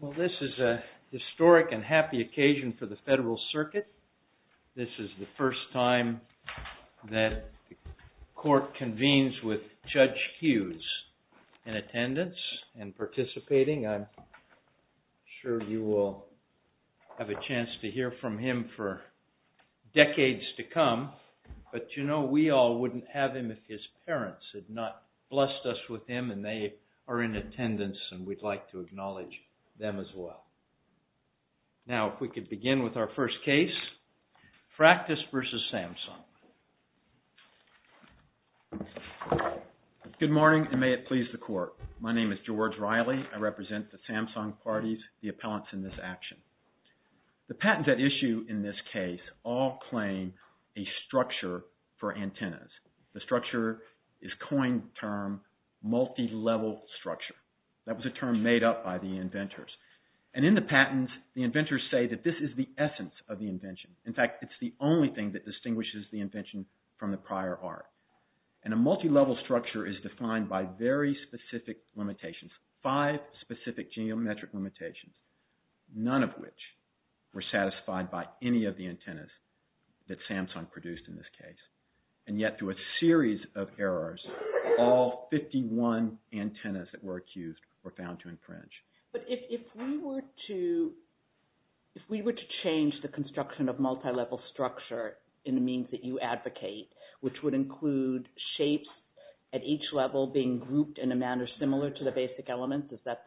Well, this is a historic and happy occasion for the Federal Circuit. This is the first time that the Court convenes with Judge Hughes in attendance and participating. I'm sure you will have a chance to hear from him for decades to come, but you know we all wouldn't have him if his parents had not blessed us with him and they are in attendance and we'd like to acknowledge them as well. Now if we could begin with our first case, FRACTUS v. SAMSUNG. Good morning, and may it please the Court. My name is George Riley. I represent the Samsung parties, the appellants in this action. The patents at issue in this case all claim a structure. The structure is a coined term, multi-level structure. That was a term made up by the inventors. And in the patents, the inventors say that this is the essence of the invention. In fact, it's the only thing that distinguishes the invention from the prior art. And a multi-level structure is defined by very specific limitations, five specific geometric limitations, none of which were satisfied by any of the antennas that were used. In a series of errors, all 51 antennas that were accused were found to infringe. But if we were to change the construction of multi-level structure in the means that you advocate, which would include shapes at each level being grouped in a manner similar to the basic elements, is that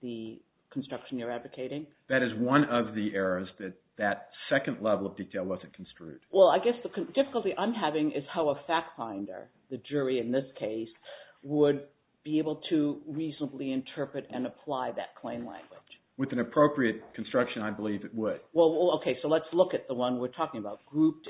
the construction you're advocating? That is one of the errors that that second level of detail wasn't construed. Well, I guess the difficulty I'm having is how a fact finder, the jury in this case, would be able to reasonably interpret and apply that claim language. With an appropriate construction, I believe it would. Well, okay, so let's look at the one we're talking about.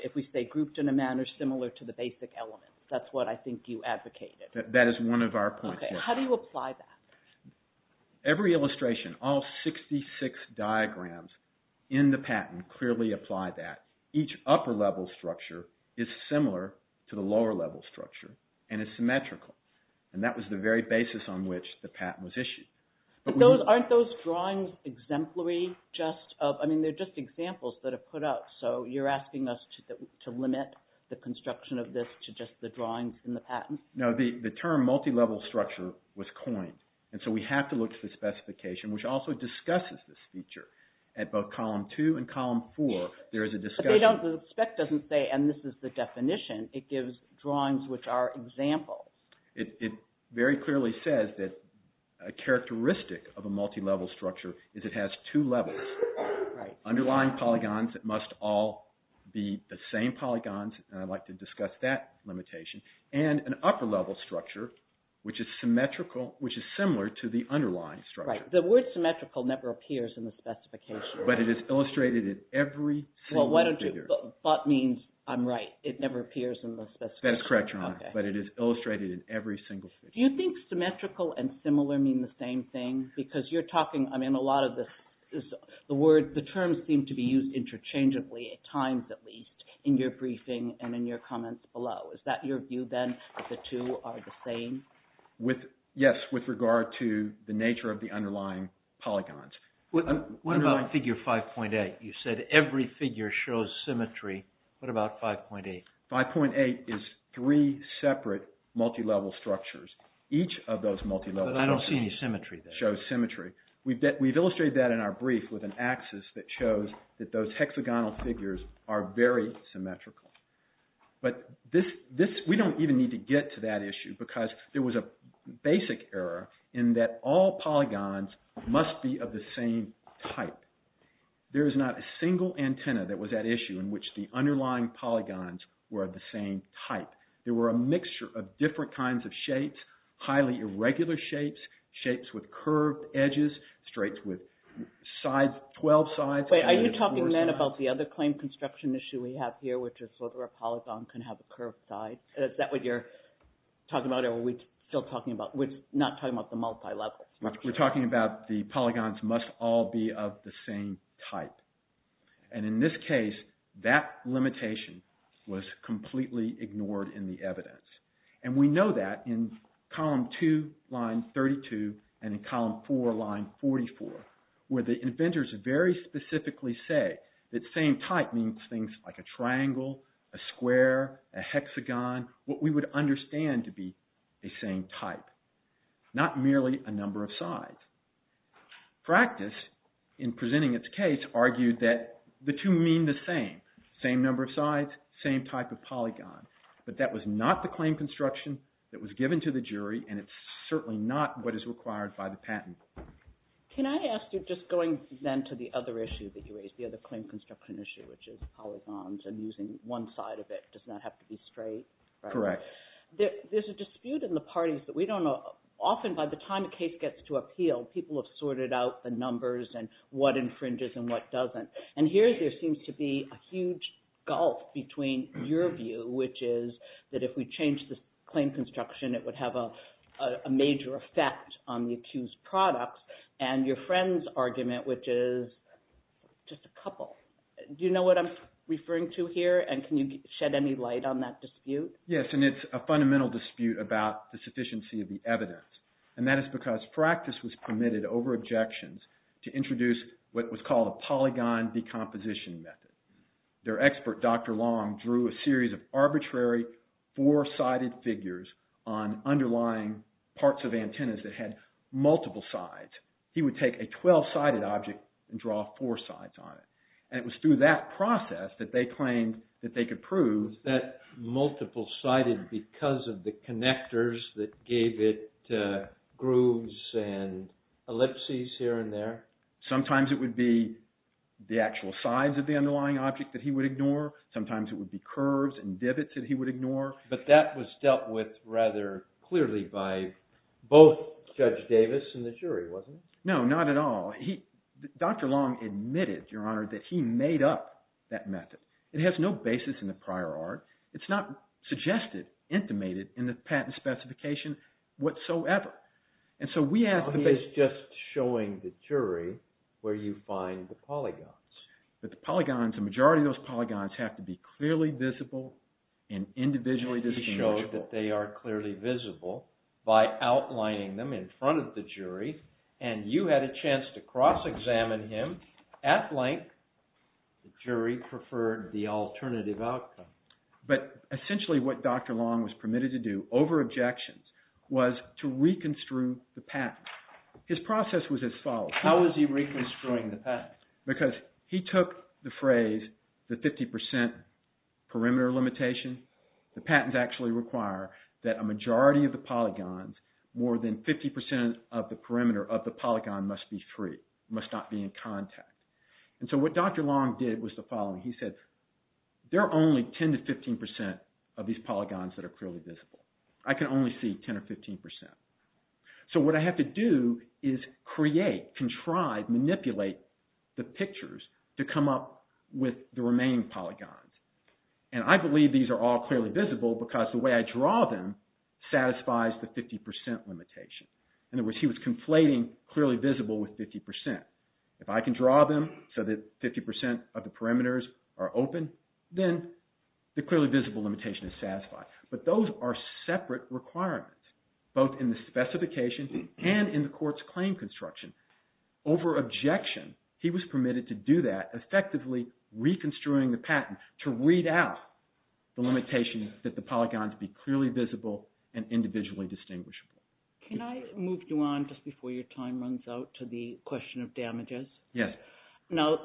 If we say grouped in a manner similar to the basic elements, that's what I think you advocated. That is one of our points. Okay. How do you apply that? Every illustration, all 66 diagrams in the patent clearly apply that. Each upper level structure is similar to the lower level structure and is symmetrical. And that was the very basis on which the patent was issued. But aren't those drawings exemplary? I mean, they're just examples that are put up, so you're asking us to limit the construction of this to just the drawings in the patent? No, the term multi-level structure was coined. And so we have to look to the specification, which also discusses this feature. At both column two and column four, there is a discussion. But the spec doesn't say, and this is the definition, it gives drawings which are examples. It very clearly says that a characteristic of a multi-level structure is it has two levels. Underlying polygons must all be the same polygons, and I'd like to discuss that limitation. And an upper level structure, which is symmetrical, which is similar to the underlying structure. Right. The word symmetrical never appears in the specification. But it is illustrated in every single figure. Well, why don't you, but means I'm right. It never appears in the specification. That is correct, Your Honor. But it is illustrated in every single figure. Do you think symmetrical and similar mean the same thing? Because you're talking, I mean, a lot of this, the word, the terms seem to be used interchangeably at times, at least, in your briefing and in your comments below. Is that your view, then, that the two are the same? Yes, with regard to the nature of the underlying polygons. What about figure 5.8? You said every figure shows symmetry. What about 5.8? 5.8 is three separate multi-level structures. Each of those multi-level structures But I don't see any symmetry there. shows symmetry. We've illustrated that in our brief with an axis that shows that those hexagonal figures are very symmetrical. But we don't even need to get to that issue because there was a basic error in that all polygons must be of the same type. There is not a single antenna that was at issue in which the underlying polygons were of the same type. There were a mixture of different kinds of shapes, highly irregular shapes, shapes with curved edges, straights with 12 sides. Are you talking, then, about the other claim construction issue we have here, which is whether a polygon can have a curved side? Is that what you're talking about or are we still talking about? We're not talking about the multi-levels. We're talking about the polygons must all be of the same type. And in this case, that limitation was completely ignored in the evidence. And we know that in column 2, line 32, and in column 4, line 44, where the inventors very specifically say that same type means things like a triangle, a square, a hexagon, what we would understand to be a same type, not merely a number of sides. Practice, in presenting its case, argued that the two mean the same, same number of sides, same type of polygon. But that was not the claim construction that was given to the jury, and it's certainly not what is required by the patent. Can I ask you, just going, then, to the other issue that you raised, the other claim construction issue, which is polygons and using one side of it does not have to be straight? Correct. There's a dispute in the parties that we don't know. Often, by the time a case gets to appeal, people have sorted out the numbers and what infringes and what doesn't. And here, there would be a major effect on the accused product, and your friend's argument, which is just a couple. Do you know what I'm referring to here, and can you shed any light on that dispute? Yes, and it's a fundamental dispute about the sufficiency of the evidence. And that is because practice was permitted, over objections, to introduce what was called a polygon decomposition method. Their expert, Dr. Long, drew a series of arbitrary four-sided figures on underlying parts of antennas that had multiple sides. He would take a 12-sided object and draw four sides on it. And it was through that process that they claimed that they could prove... That multiple-sided because of the connectors that gave it grooves and ellipses here and there? Sometimes it would be the actual sides of the underlying object that he would ignore. Sometimes it would be curves and divots that he would ignore. But that was dealt with rather clearly by both Judge Davis and the jury, wasn't it? No, not at all. Dr. Long admitted, Your Honor, that he made up that method. It has no basis in the prior art. It's not suggested, intimated in the patent specification whatsoever. And so we asked him... He's just showing the jury where you find the polygons. But the polygons, the majority of those polygons have to be clearly visible and individually distinguishable. He showed that they are clearly visible by outlining them in front of the jury, and you had a chance to cross-examine him at length. The jury preferred the alternative outcome. But essentially what Dr. Long was permitted to do over objections was to reconstruct the patent. His process was as follows. How was he reconstructing the patent? Because he took the phrase, the 50% perimeter limitation. The patents actually require that a majority of the polygons, more than 50% of the perimeter of the polygon must be free, must not be in contact. And so what Dr. Long did was the following. He said, there are only 10 to 15% of these polygons that are clearly visible. I can only see 10 or 15%. So what I have to do is create, contrive, manipulate the pictures to come up with the remaining polygons. And I believe these are all clearly visible because the way I draw them satisfies the 50% limitation. In other words, he was conflating clearly visible with 50%. If I can draw them so that 50% of the perimeters are open, then the clearly visible limitation is satisfied. But those are separate requirements, both in the specification and in the court's claim construction. Over objection, he was permitted to do that, effectively reconstructing the patent to read out the limitation that the polygons be clearly visible and individually distinguishable. Can I move you on just before your time runs out to the question of damages? Yes. Now,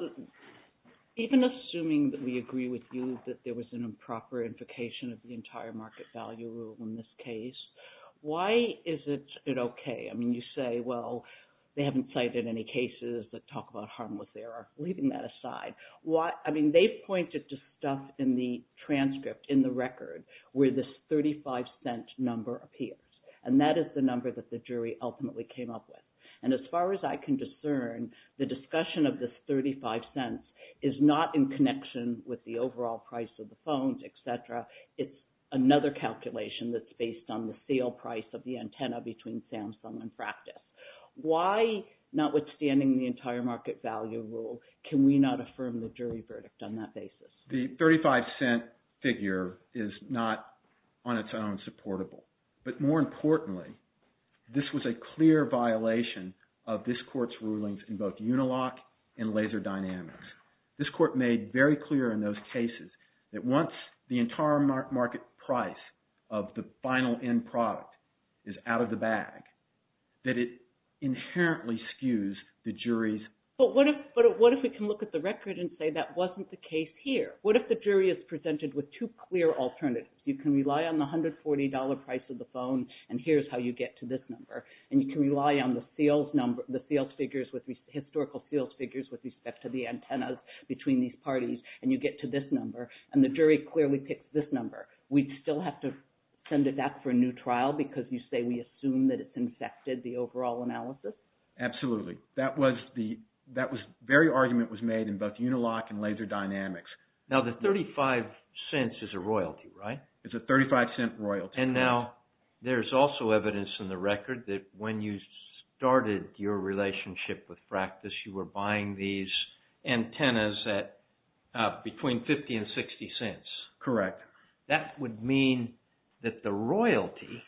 even assuming that we agree with you that there was an improper invocation of the entire market value rule in this case, why is it okay? I mean, you say, well, they haven't cited any cases that talk about harmless error. Leaving that aside, why? I mean, they've pointed to stuff in the transcript, in the record, where this 35 cent number appears. And that is the number that the jury ultimately came up with. And as far as I can discern, the discussion of this 35 cents is not in connection with the overall price of the phones, etc. It's another calculation that's based on the sale price of the antenna between Samsung and practice. Why, notwithstanding the entire market value rule, can we not affirm the jury verdict on that basis? The 35 cent figure is not on its own supportable. But more importantly, this was a clear violation of this court's rulings in both Unilock and Laser Dynamics. This court made very clear in those cases that once the entire market price of the final end product is out of the bag, that it inherently skews the jury's... But what if we can look at the record and say that wasn't the case here? What if the jury is presented with two clear alternatives? You can rely on the $140 price of the phone, and here's how you get to this number. And you can rely on the sales figures, historical sales figures, with respect to the antennas between these parties, and you get to this number. And the jury clearly picks this number. We'd still have to send it back for a new trial because you say we assume that it's infected the overall analysis. Absolutely. That very argument was made in both Unilock and Laser Dynamics. Now, the 35 cents is a royalty, right? It's a 35-cent royalty. And now, there's also evidence in the record that when you started your relationship with Fractus, you were buying these antennas at between 50 and 60 cents. Correct. That would mean that the royalty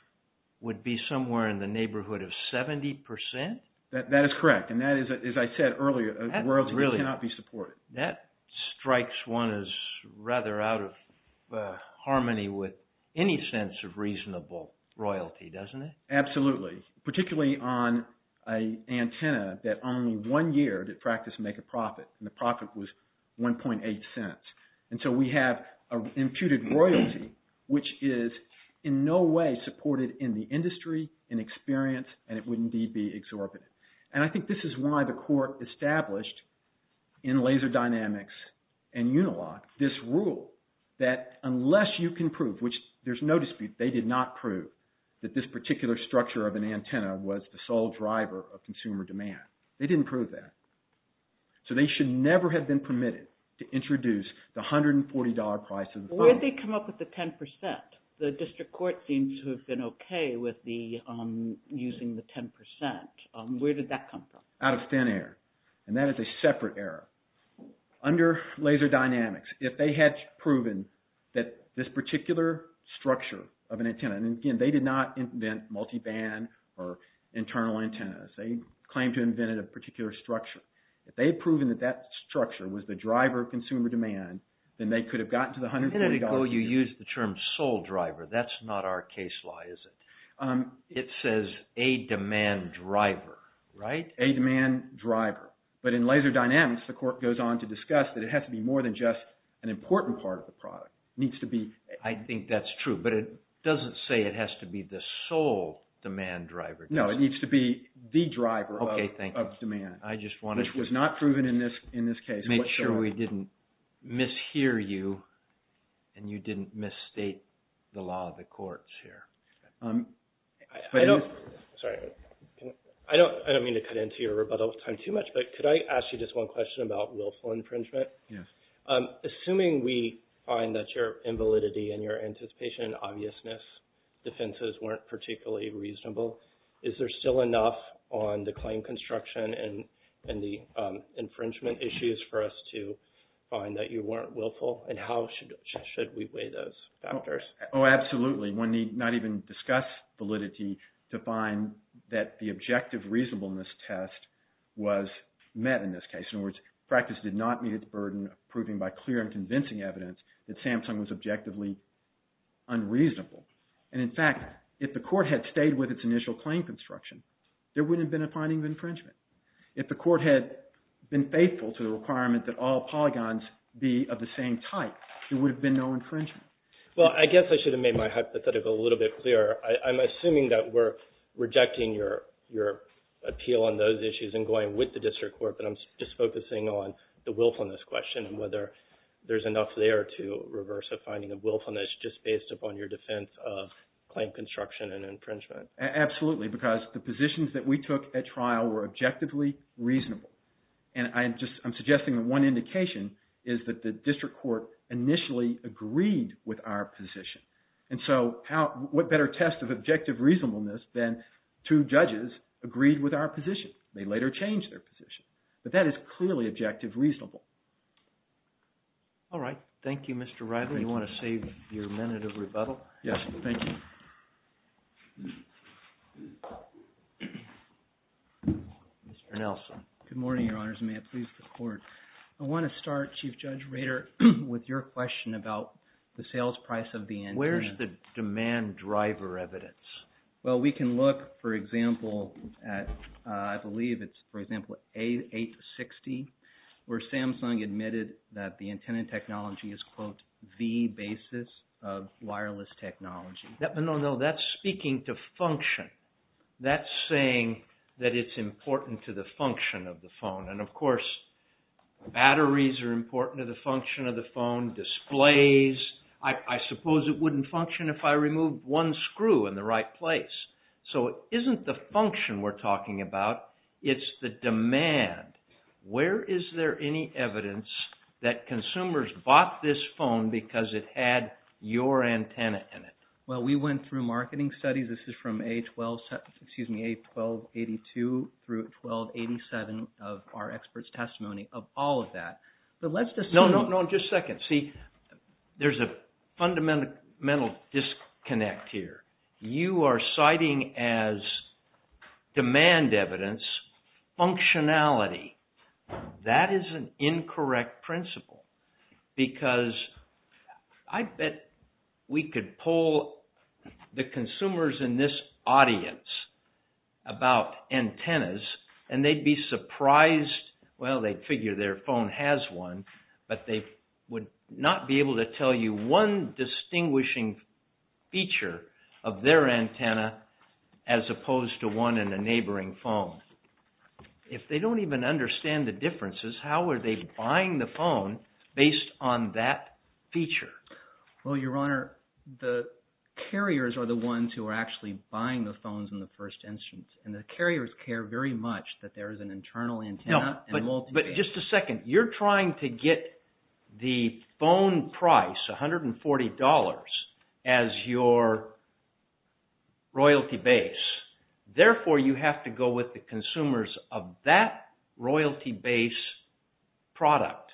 would be somewhere in the neighborhood of 70 percent? That is correct. And that is, as I said earlier, a royalty that cannot be supported. That strikes one as rather out of harmony with any sense of reasonable royalty, doesn't it? Absolutely. Particularly on an antenna that only one year did Fractus make a profit, and the profit was 1.8 cents. And so we have an imputed royalty which is in no way supported in the industry, in experience, and it would indeed be exorbitant. And I think this is why the court established in Laser Dynamics and Unilock this rule that unless you can prove, which there's no dispute, they did not prove that this particular structure of an antenna was the sole driver of consumer demand. They didn't prove that. So they should never have been permitted to introduce the with the using the 10 percent. Where did that come from? Out of thin air. And that is a separate error. Under Laser Dynamics, if they had proven that this particular structure of an antenna, and again, they did not invent multiband or internal antennas. They claimed to have invented a particular structure. If they had proven that that structure was the driver of consumer demand, then they could have gotten to the $100 million. A minute ago you used the term sole driver. That's not our case law, is it? It says a demand driver, right? A demand driver. But in Laser Dynamics, the court goes on to discuss that it has to be more than just an important part of the product. It needs to be... I think that's true, but it doesn't say it has to be the sole demand driver. No, it needs to be the driver of demand. Okay, thank you. I just wanted... Which was not proven in this here. Sorry, I don't mean to cut into your rebuttal time too much, but could I ask you just one question about willful infringement? Yes. Assuming we find that your invalidity and your anticipation and obviousness defenses weren't particularly reasonable, is there still enough on the claim construction and the infringement issues for us to find that you weren't willful? And how should we weigh those factors? Oh, absolutely. One need not even discuss validity to find that the objective reasonableness test was met in this case. In other words, practice did not meet its burden of proving by clear and convincing evidence that Samsung was objectively unreasonable. And in fact, if the court had stayed with its initial claim construction, there wouldn't have been a finding of infringement. If the court had been faithful to the requirement that all polygons be of the same type, there would have been no infringement. Well, I guess I should have made my hypothetical a little bit clearer. I'm assuming that we're rejecting your appeal on those issues and going with the district court, but I'm just focusing on the willfulness question and whether there's enough there to reverse a finding of willfulness just based upon your defense of claim construction and infringement. Absolutely, because the indication is that the district court initially agreed with our position. And so what better test of objective reasonableness than two judges agreed with our position? They later changed their position. But that is clearly objective reasonable. All right. Thank you, Mr. Riley. You want to save your minute of rebuttal? Yes, thank you. Mr. Nelson. Good morning, Your Honors. May I please the court? I want to start, Chief Judge Rader, with your question about the sales price of the antenna. Where's the demand driver evidence? Well, we can look, for example, at, I believe it's, for example, A860, where Samsung admitted that the antenna technology is, quote, the basis of wireless technology. No, no, that's speaking to function. That's saying that it's important to the function of the phone. And, of course, batteries are important to the function of the phone, displays. I suppose it wouldn't function if I removed one screw in the right place. So it isn't the function we're talking about, it's the demand. Where is there any evidence that consumers bought this phone because it had your antenna in it? Well, we went through studies. This is from A1282 through A1287 of our experts' testimony of all of that. But let's just... No, no, no, just a second. See, there's a fundamental disconnect here. You are citing as demand evidence functionality. That is an incorrect principle because I bet we could poll the consumers in this audience about antennas and they'd be surprised. Well, they'd figure their phone has one, but they would not be able to tell you one distinguishing feature of their antenna as opposed to one in a neighboring phone. If they don't even understand the differences, how are they buying the phone based on that feature? Well, Your Honor, the carriers are the ones who are actually buying the phones in the first instance. And the carriers care very much that there is an internal antenna and multi... No, but just a second. You're trying to get the phone price, $140, as your royalty base. Therefore, you have to go with the consumers of that royalty base product.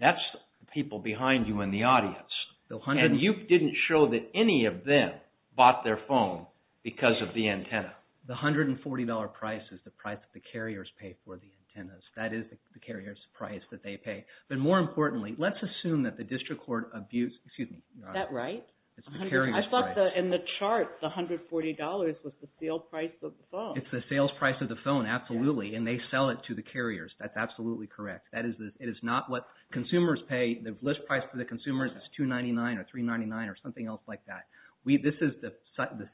That's the people behind you in the audience. And you didn't show that any of them bought their phone because of the antenna. The $140 price is the price that the carriers pay for the antennas. That is the carrier's price that they pay. But more importantly, let's assume that the district court abuse... Excuse me, Your Honor. Is that right? I thought in the chart, the $140 was the sale price of the phone. It's the sales price of the phone. Absolutely. And they sell it to the carriers. That's absolutely correct. It is not what consumers pay. The list price for the consumers is $299 or $399 or something else like that. This is the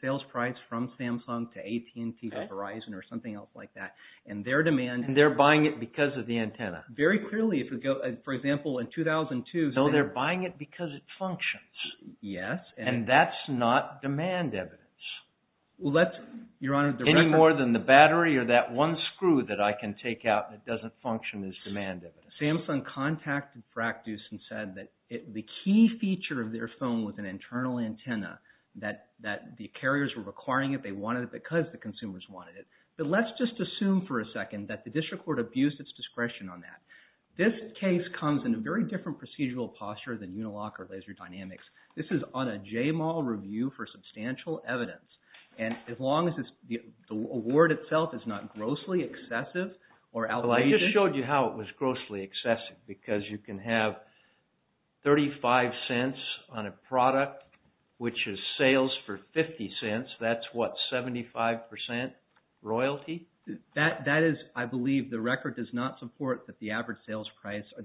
sales price from Samsung to AT&T to Verizon or something else like that. And they're buying it because of the antenna. Very clearly. For example, in 2002... So they're buying it because it functions. Yes. And that's not demand evidence. Any more than the battery or that one screw that I can take out that doesn't function as demand evidence. Samsung contacted Frac Deuce and said that the key feature of their phone was an internal antenna, that the carriers were requiring it. They wanted it because the consumers wanted it. But let's just assume for a second that the district court abused its discretion on that. This case comes in a very different procedural posture than Unilock or Substantial Evidence. And as long as the award itself is not grossly excessive... Well, I just showed you how it was grossly excessive because you can have 35 cents on a product which is sales for 50 cents. That's what, 75% royalty? That is, I believe, the record does not support that the average sales price or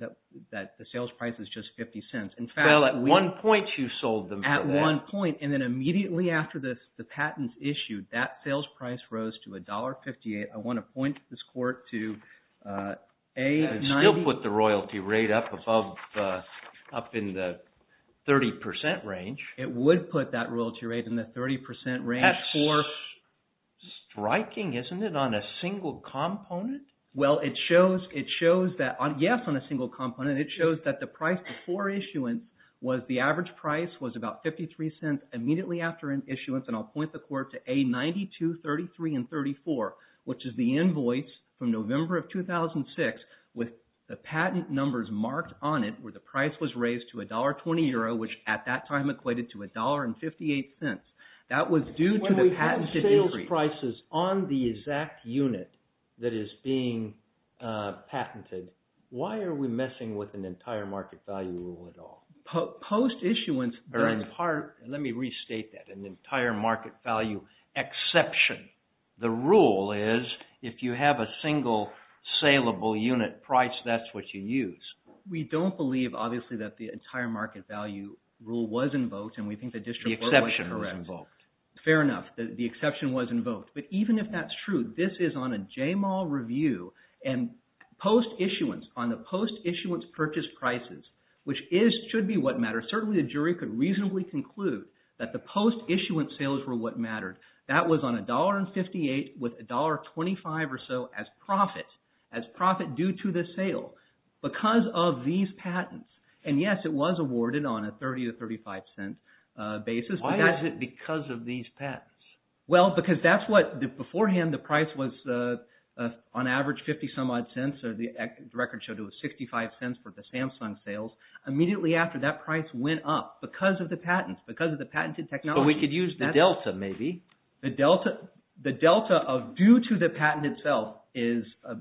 that the sales price is just 50 cents. Well, at one point, and then immediately after the patents issued, that sales price rose to $1.58. I want to point this court to... It would still put the royalty rate up in the 30% range. It would put that royalty rate in the 30% range for... That's striking, isn't it, on a single component? Well, it shows that... Yes, on a single component. It shows that the price before issuance was the $1.58 immediately after issuance. And I'll point the court to A92, 33, and 34, which is the invoice from November of 2006 with the patent numbers marked on it where the price was raised to $1.20, which at that time equated to $1.58. That was due to the patented increase. When we put sales prices on the exact unit that is being patented, why are we messing with an entire market value exception? The rule is, if you have a single salable unit price, that's what you use. We don't believe, obviously, that the entire market value rule was invoked and we think the district court was correct. The exception was invoked. Fair enough. The exception was invoked. But even if that's true, this is on a JMAL review and post-issuance, on the post-issuance purchase prices, which should be what matters. Certainly, the jury could reasonably conclude that the post-issuance sales were what mattered. That was on $1.58 with $1.25 or so as profit due to the sale because of these patents. And yes, it was awarded on a $0.30 to $0.35 basis. Why is it because of these patents? Well, because that's what, beforehand, the price was on average 50-some-odd cents or the record showed it was $0.65 for the Samsung sales. Immediately after, that price went up because of the patents, because of the patented technology. But we could use the delta, maybe. The delta of due to the patent itself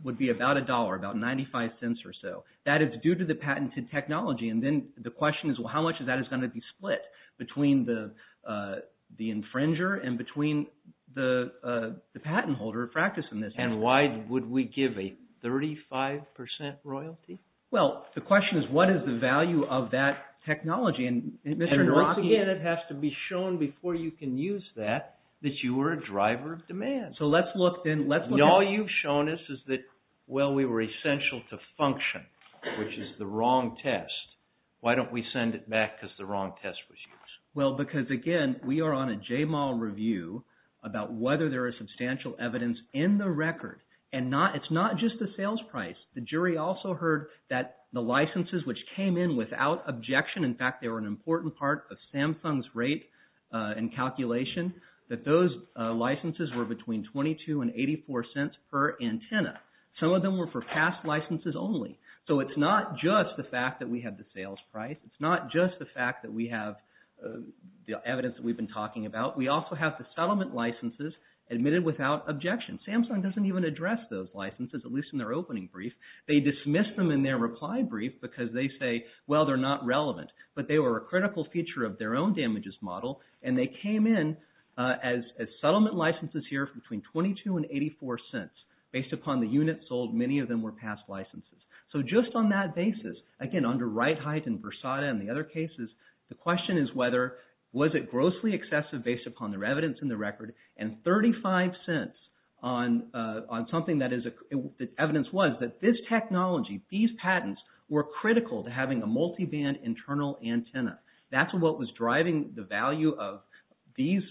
would be about $1, about $0.95 or so. That is due to the patented technology. And then the question is, well, how much of that is going to be split between the infringer and between the patent holder practicing this? Why would we give a 35% royalty? Well, the question is, what is the value of that technology? And once again, it has to be shown before you can use that, that you were a driver of demand. So let's look, then. All you've shown us is that, well, we were essential to function, which is the wrong test. Why don't we send it back because the wrong test was used? Well, because again, we are on a JMAL review about whether there is substantial evidence in the record. And it's not just the sales price. The jury also heard that the licenses which came in without objection, in fact, they were an important part of Samsung's rate and calculation, that those licenses were between $0.22 and $0.84 per antenna. Some of them were for past licenses only. So it's not just the fact that we have the sales price. It's not just the fact that we have the evidence that we've been talking about. We also have the settlement licenses admitted without objection. Samsung doesn't even address those licenses, at least in their opening brief. They dismiss them in their reply brief because they say, well, they're not relevant. But they were a critical feature of their own damages model, and they came in as settlement licenses here for between $0.22 and $0.84. Based upon the units sold, many of them were past licenses. So just on that basis, again, under RightHeight and Versada and the other cases, the question is whether, was it grossly excessive based upon their evidence in the record, and $0.35 on something that evidence was that this technology, these patents were critical to having a multiband internal antenna. That's what was driving the value of these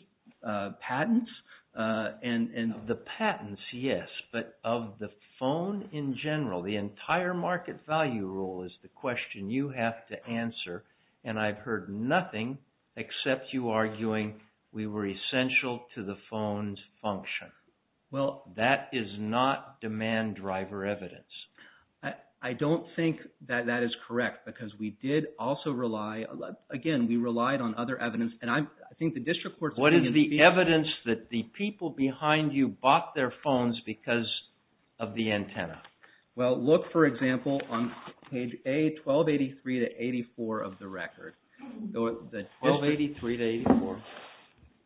patents. And the patents, yes, but of the phone in general, the entire market value rule is the question you have to answer. And I've heard nothing except you arguing we were essential to the phone's function. Well, that is not demand driver evidence. I don't think that that is correct because we did also rely, again, we relied on other evidence. And I think the district court's opinion- What is the evidence that the people behind you bought their phones because of the antenna? Well, look, for example, on page A, 1283 to 84 of the record. 1283 to 84.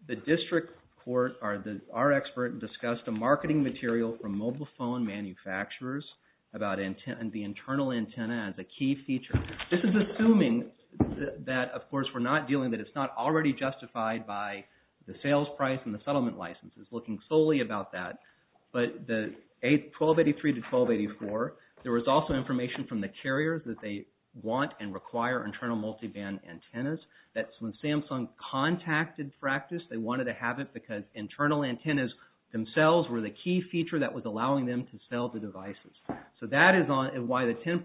The district court, our expert, discussed a marketing material from mobile phone manufacturers about the internal antenna as a key feature. This is assuming that, of course, we're not dealing, that it's not already justified by the sales price and the settlement licenses, looking solely about that. But the 1283 to 1284, there was also information from the carriers that they want and require internal multiband antennas. That's when Samsung contacted Fractus. They wanted to have it because internal antennas themselves were the key feature that was allowing them to sell the devices. So that is why the 10%,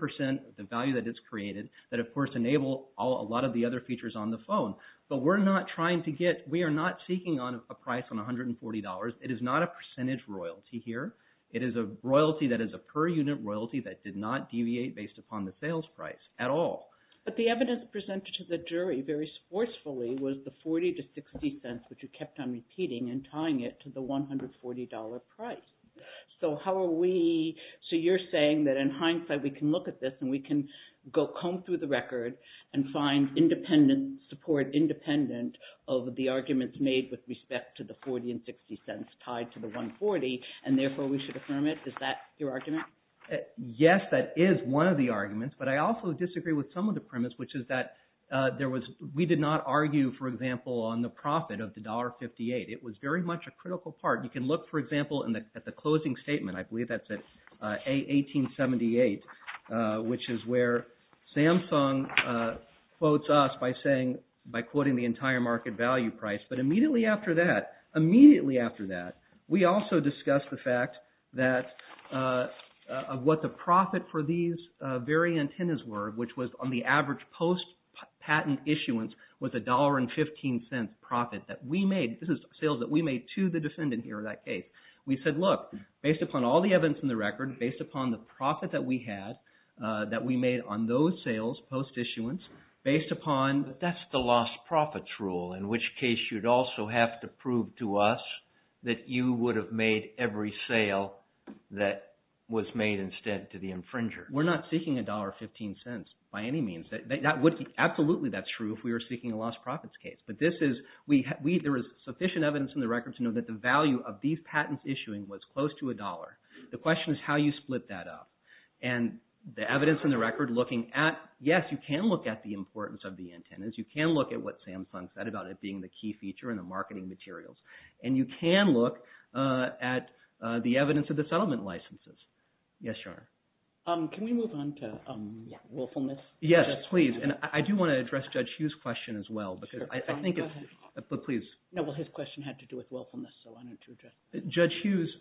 the value that it's created, that of course enable a lot of the other features on the phone. But we're not trying to get, we are not seeking a price on $140. It is not a percentage royalty here. It is a royalty that is a per unit royalty that did not deviate based upon the sales price at all. But the evidence presented to the jury very forcefully was the 40 to 60 cents, which you kept on repeating and tying it to the $140 price. So how are we, so you're saying that in hindsight, we can look at this and we can go comb through the record and find independent support, independent of the arguments made with respect to the 40 and 60 cents tied to the 140, and therefore we should affirm it? Is that your argument? Yes, that is one of the arguments. But I also disagree with some of the premise, which is that there was, we did not argue, for example, on the profit of the $1.58. It was very much a critical part. You can look, for example, at the closing statement. I believe that's at 1878, which is where Samsung quotes us by saying, by quoting the entire market value price. But immediately after that, immediately after that, we also discussed the fact that what the profit for these very antennas were, which was on the average post patent issuance was $1.15 profit that we made. This is sales that we made to the defendant here in that case. We said, look, based upon all the evidence in the record, based upon the profit that we had, that we made on those sales post issuance, based upon... But that's the lost profits rule, in which case you'd also have to prove to us that you would have made every sale that was made instead to the infringer. We're not seeking $1.15 by any means. Absolutely, that's true if we were seeking a lost profits case. There is sufficient evidence in the record to know that the value of these patents issuing was close to $1. The question is how you split that up. And the evidence in the record looking at... Yes, you can look at the importance of the antennas. You can look at what Samsung said about it being the key feature in the marketing materials. And you can look at the evidence of the settlement licenses. Yes, Your Honor. Can we move on to willfulness? Yes, please. And I do want to address Judge Hughes' question as well, because I think it's... Go ahead. But please. No, well, his question had to do with willfulness, so I wanted to address that. Judge Hughes,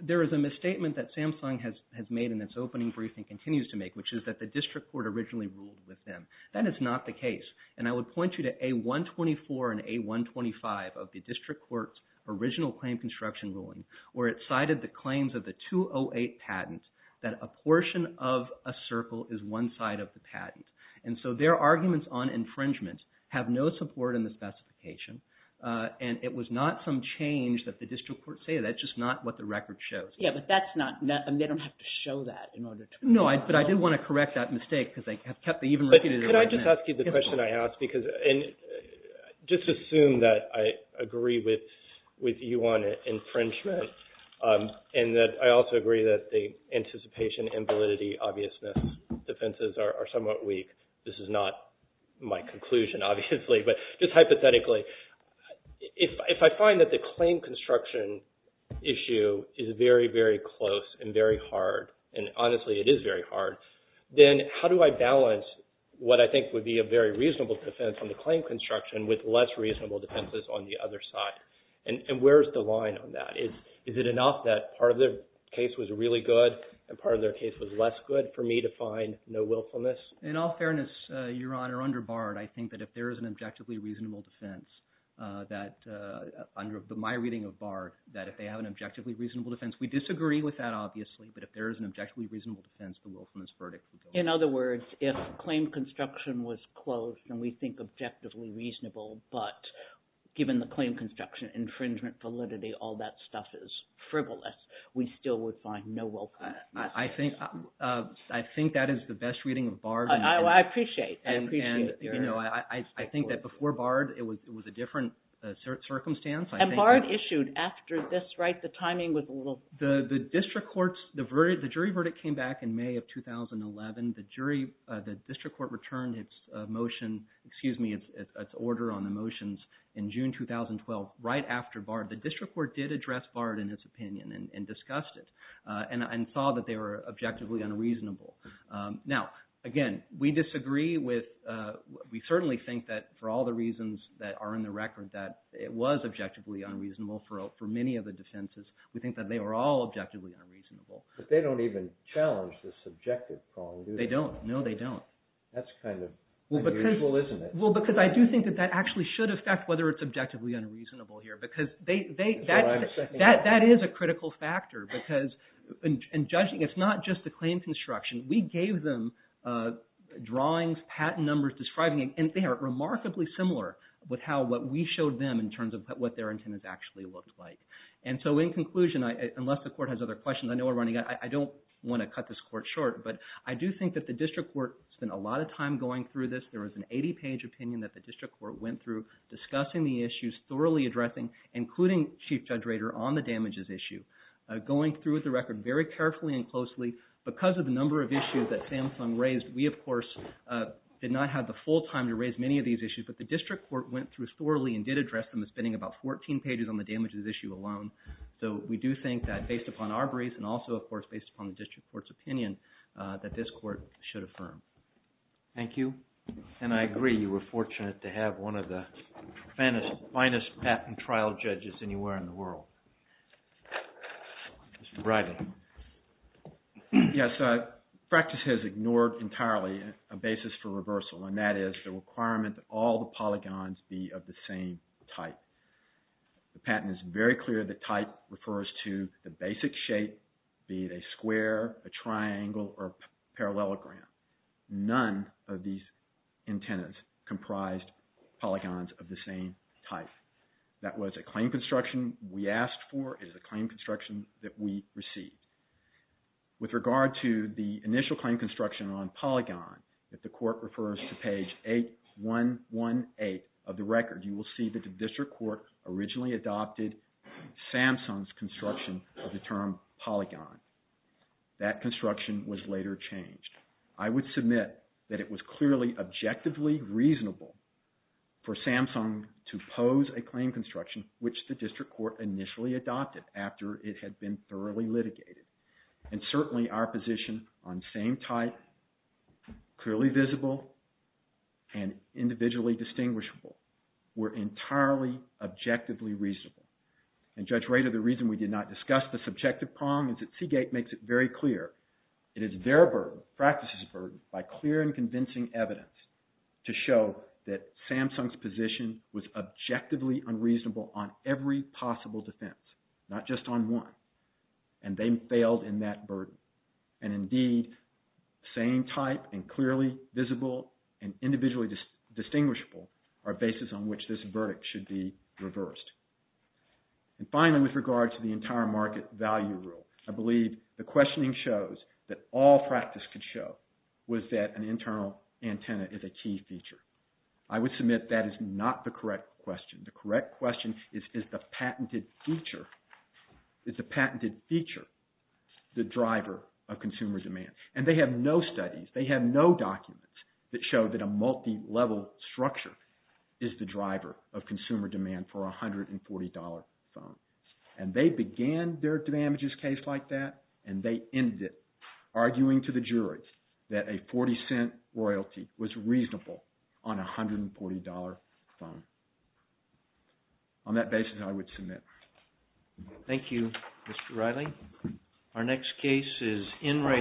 there is a misstatement that Samsung has made in its opening briefing and continues to make, which is that the district court originally ruled with them. That is not the case. And I would point you to A124 and A125 of the district court's original claim construction ruling where it cited the claims of the 208 patent that a portion of a circle is one side of the patent. And so their arguments on infringement have no support in the specification. And it was not some change that the district court stated. That's just not what the record shows. Yeah, but that's not... They don't have to show that in order to... No, but I do want to correct that mistake because they have kept... But could I just ask you the question I asked? Just assume that I agree with you on infringement and that I also agree that the anticipation and validity obviousness defenses are somewhat weak. This is not my conclusion, obviously, but just hypothetically, if I find that the claim construction issue is very, very close and very hard, and honestly, it is very hard, then how do I balance what I think would be a very reasonable defense on the claim construction with less reasonable defenses on the other side? And where's the line on that? Is it enough that part of their case was really good and part of their case was less good for me to find no willfulness? In all fairness, Your Honor, under Bard, I think that if there is an objectively reasonable defense that under my reading of Bard, that if they have an objectively reasonable defense, we disagree with that, obviously, but if there is an objectively reasonable defense, the willfulness verdict... In other words, if claim construction was closed and we think objectively reasonable, but given the claim construction infringement validity, all that stuff is frivolous, we still would find no willfulness. I think that is the best reading of Bard. I appreciate it. And I think that before Bard, it was a different circumstance. And Bard issued after this, right? The timing was a little... The jury verdict came back in May of 2011. The district court returned its motion, excuse me, its order on the motions in June 2012, right after Bard. The district court did address Bard in its opinion and discussed it and saw that they were objectively unreasonable. Now, again, we disagree with... We certainly think that for all the reasons that are in the record, that it was objectively unreasonable for many of the defenses. We think that they were all objectively unreasonable. But they don't even challenge this subjective problem. They don't. No, they don't. That's kind of unusual, isn't it? Well, because I do think that that actually should affect whether it's objectively unreasonable here, because that is a critical factor because in judging, it's not just the claim construction, we gave them drawings, patent numbers, describing it, and they are remarkably similar with how what we showed them in terms of what their intent is actually looked like. And so in conclusion, unless the court has other questions, I know we're running out, I don't want to cut this court short, but I do think that the district court spent a lot of time going through this. There was an 80-page opinion that the district court went through, discussing the issues, thoroughly addressing, including Chief Judge Rader on the damages issue, going through the record very carefully and closely because of the number of issues that Samsung raised. We, of course, did not have the full time to raise many of these issues, but the district court went through thoroughly and did address them, spending about 14 pages on the damages issue alone. So we do think that based upon our briefs and also, of course, based upon the district court's opinion, that this court should affirm. Thank you. And I agree, you were fortunate to have one of the finest patent trial judges anywhere in the world. Mr. Bradley. Yes, practice has ignored entirely a basis for reversal, and that is the requirement that all the polygons be of the same type. The patent is very clear that type refers to the basic shape, be it a square, a triangle, or a parallelogram. None of these antennas comprised polygons of the same type. That was a claim construction we asked for. It is a claim construction that we received. With regard to the initial claim construction on polygon, if the court refers to page 8118 of the record, you will see that the district court originally adopted Samsung's construction of the term polygon. That construction was later changed. I would submit that it was clearly objectively reasonable for Samsung to pose a claim construction, which the district court initially adopted after it had been thoroughly litigated. Certainly, our position on same type, clearly visible, and individually distinguishable were entirely objectively reasonable. Judge Rader, the reason we did not discuss the subjective problem is that Seagate makes it very clear it is their burden, practice's burden, by clear and convincing evidence to show that Samsung's position was objectively unreasonable on every possible defense, not just on one. And they failed in that burden. And indeed, same type and clearly visible and individually distinguishable are bases on which this verdict should be reversed. And finally, with regard to the entire market value rule, I believe the questioning shows that all practice could show was that an internal antenna is a key feature. I would submit that is not the correct question. The correct question is, is the patented feature, is the patented feature the driver of consumer demand? And they have no studies, they have no documents that show that a multi-level structure is the driver of consumer demand for a $140 phone. And they began their damages case like that and they ended it arguing to the juries that a 40-cent royalty was reasonable on a $140 phone. So, on that basis, I would submit. Thank you, Mr. Reilly. Our next case is Enright.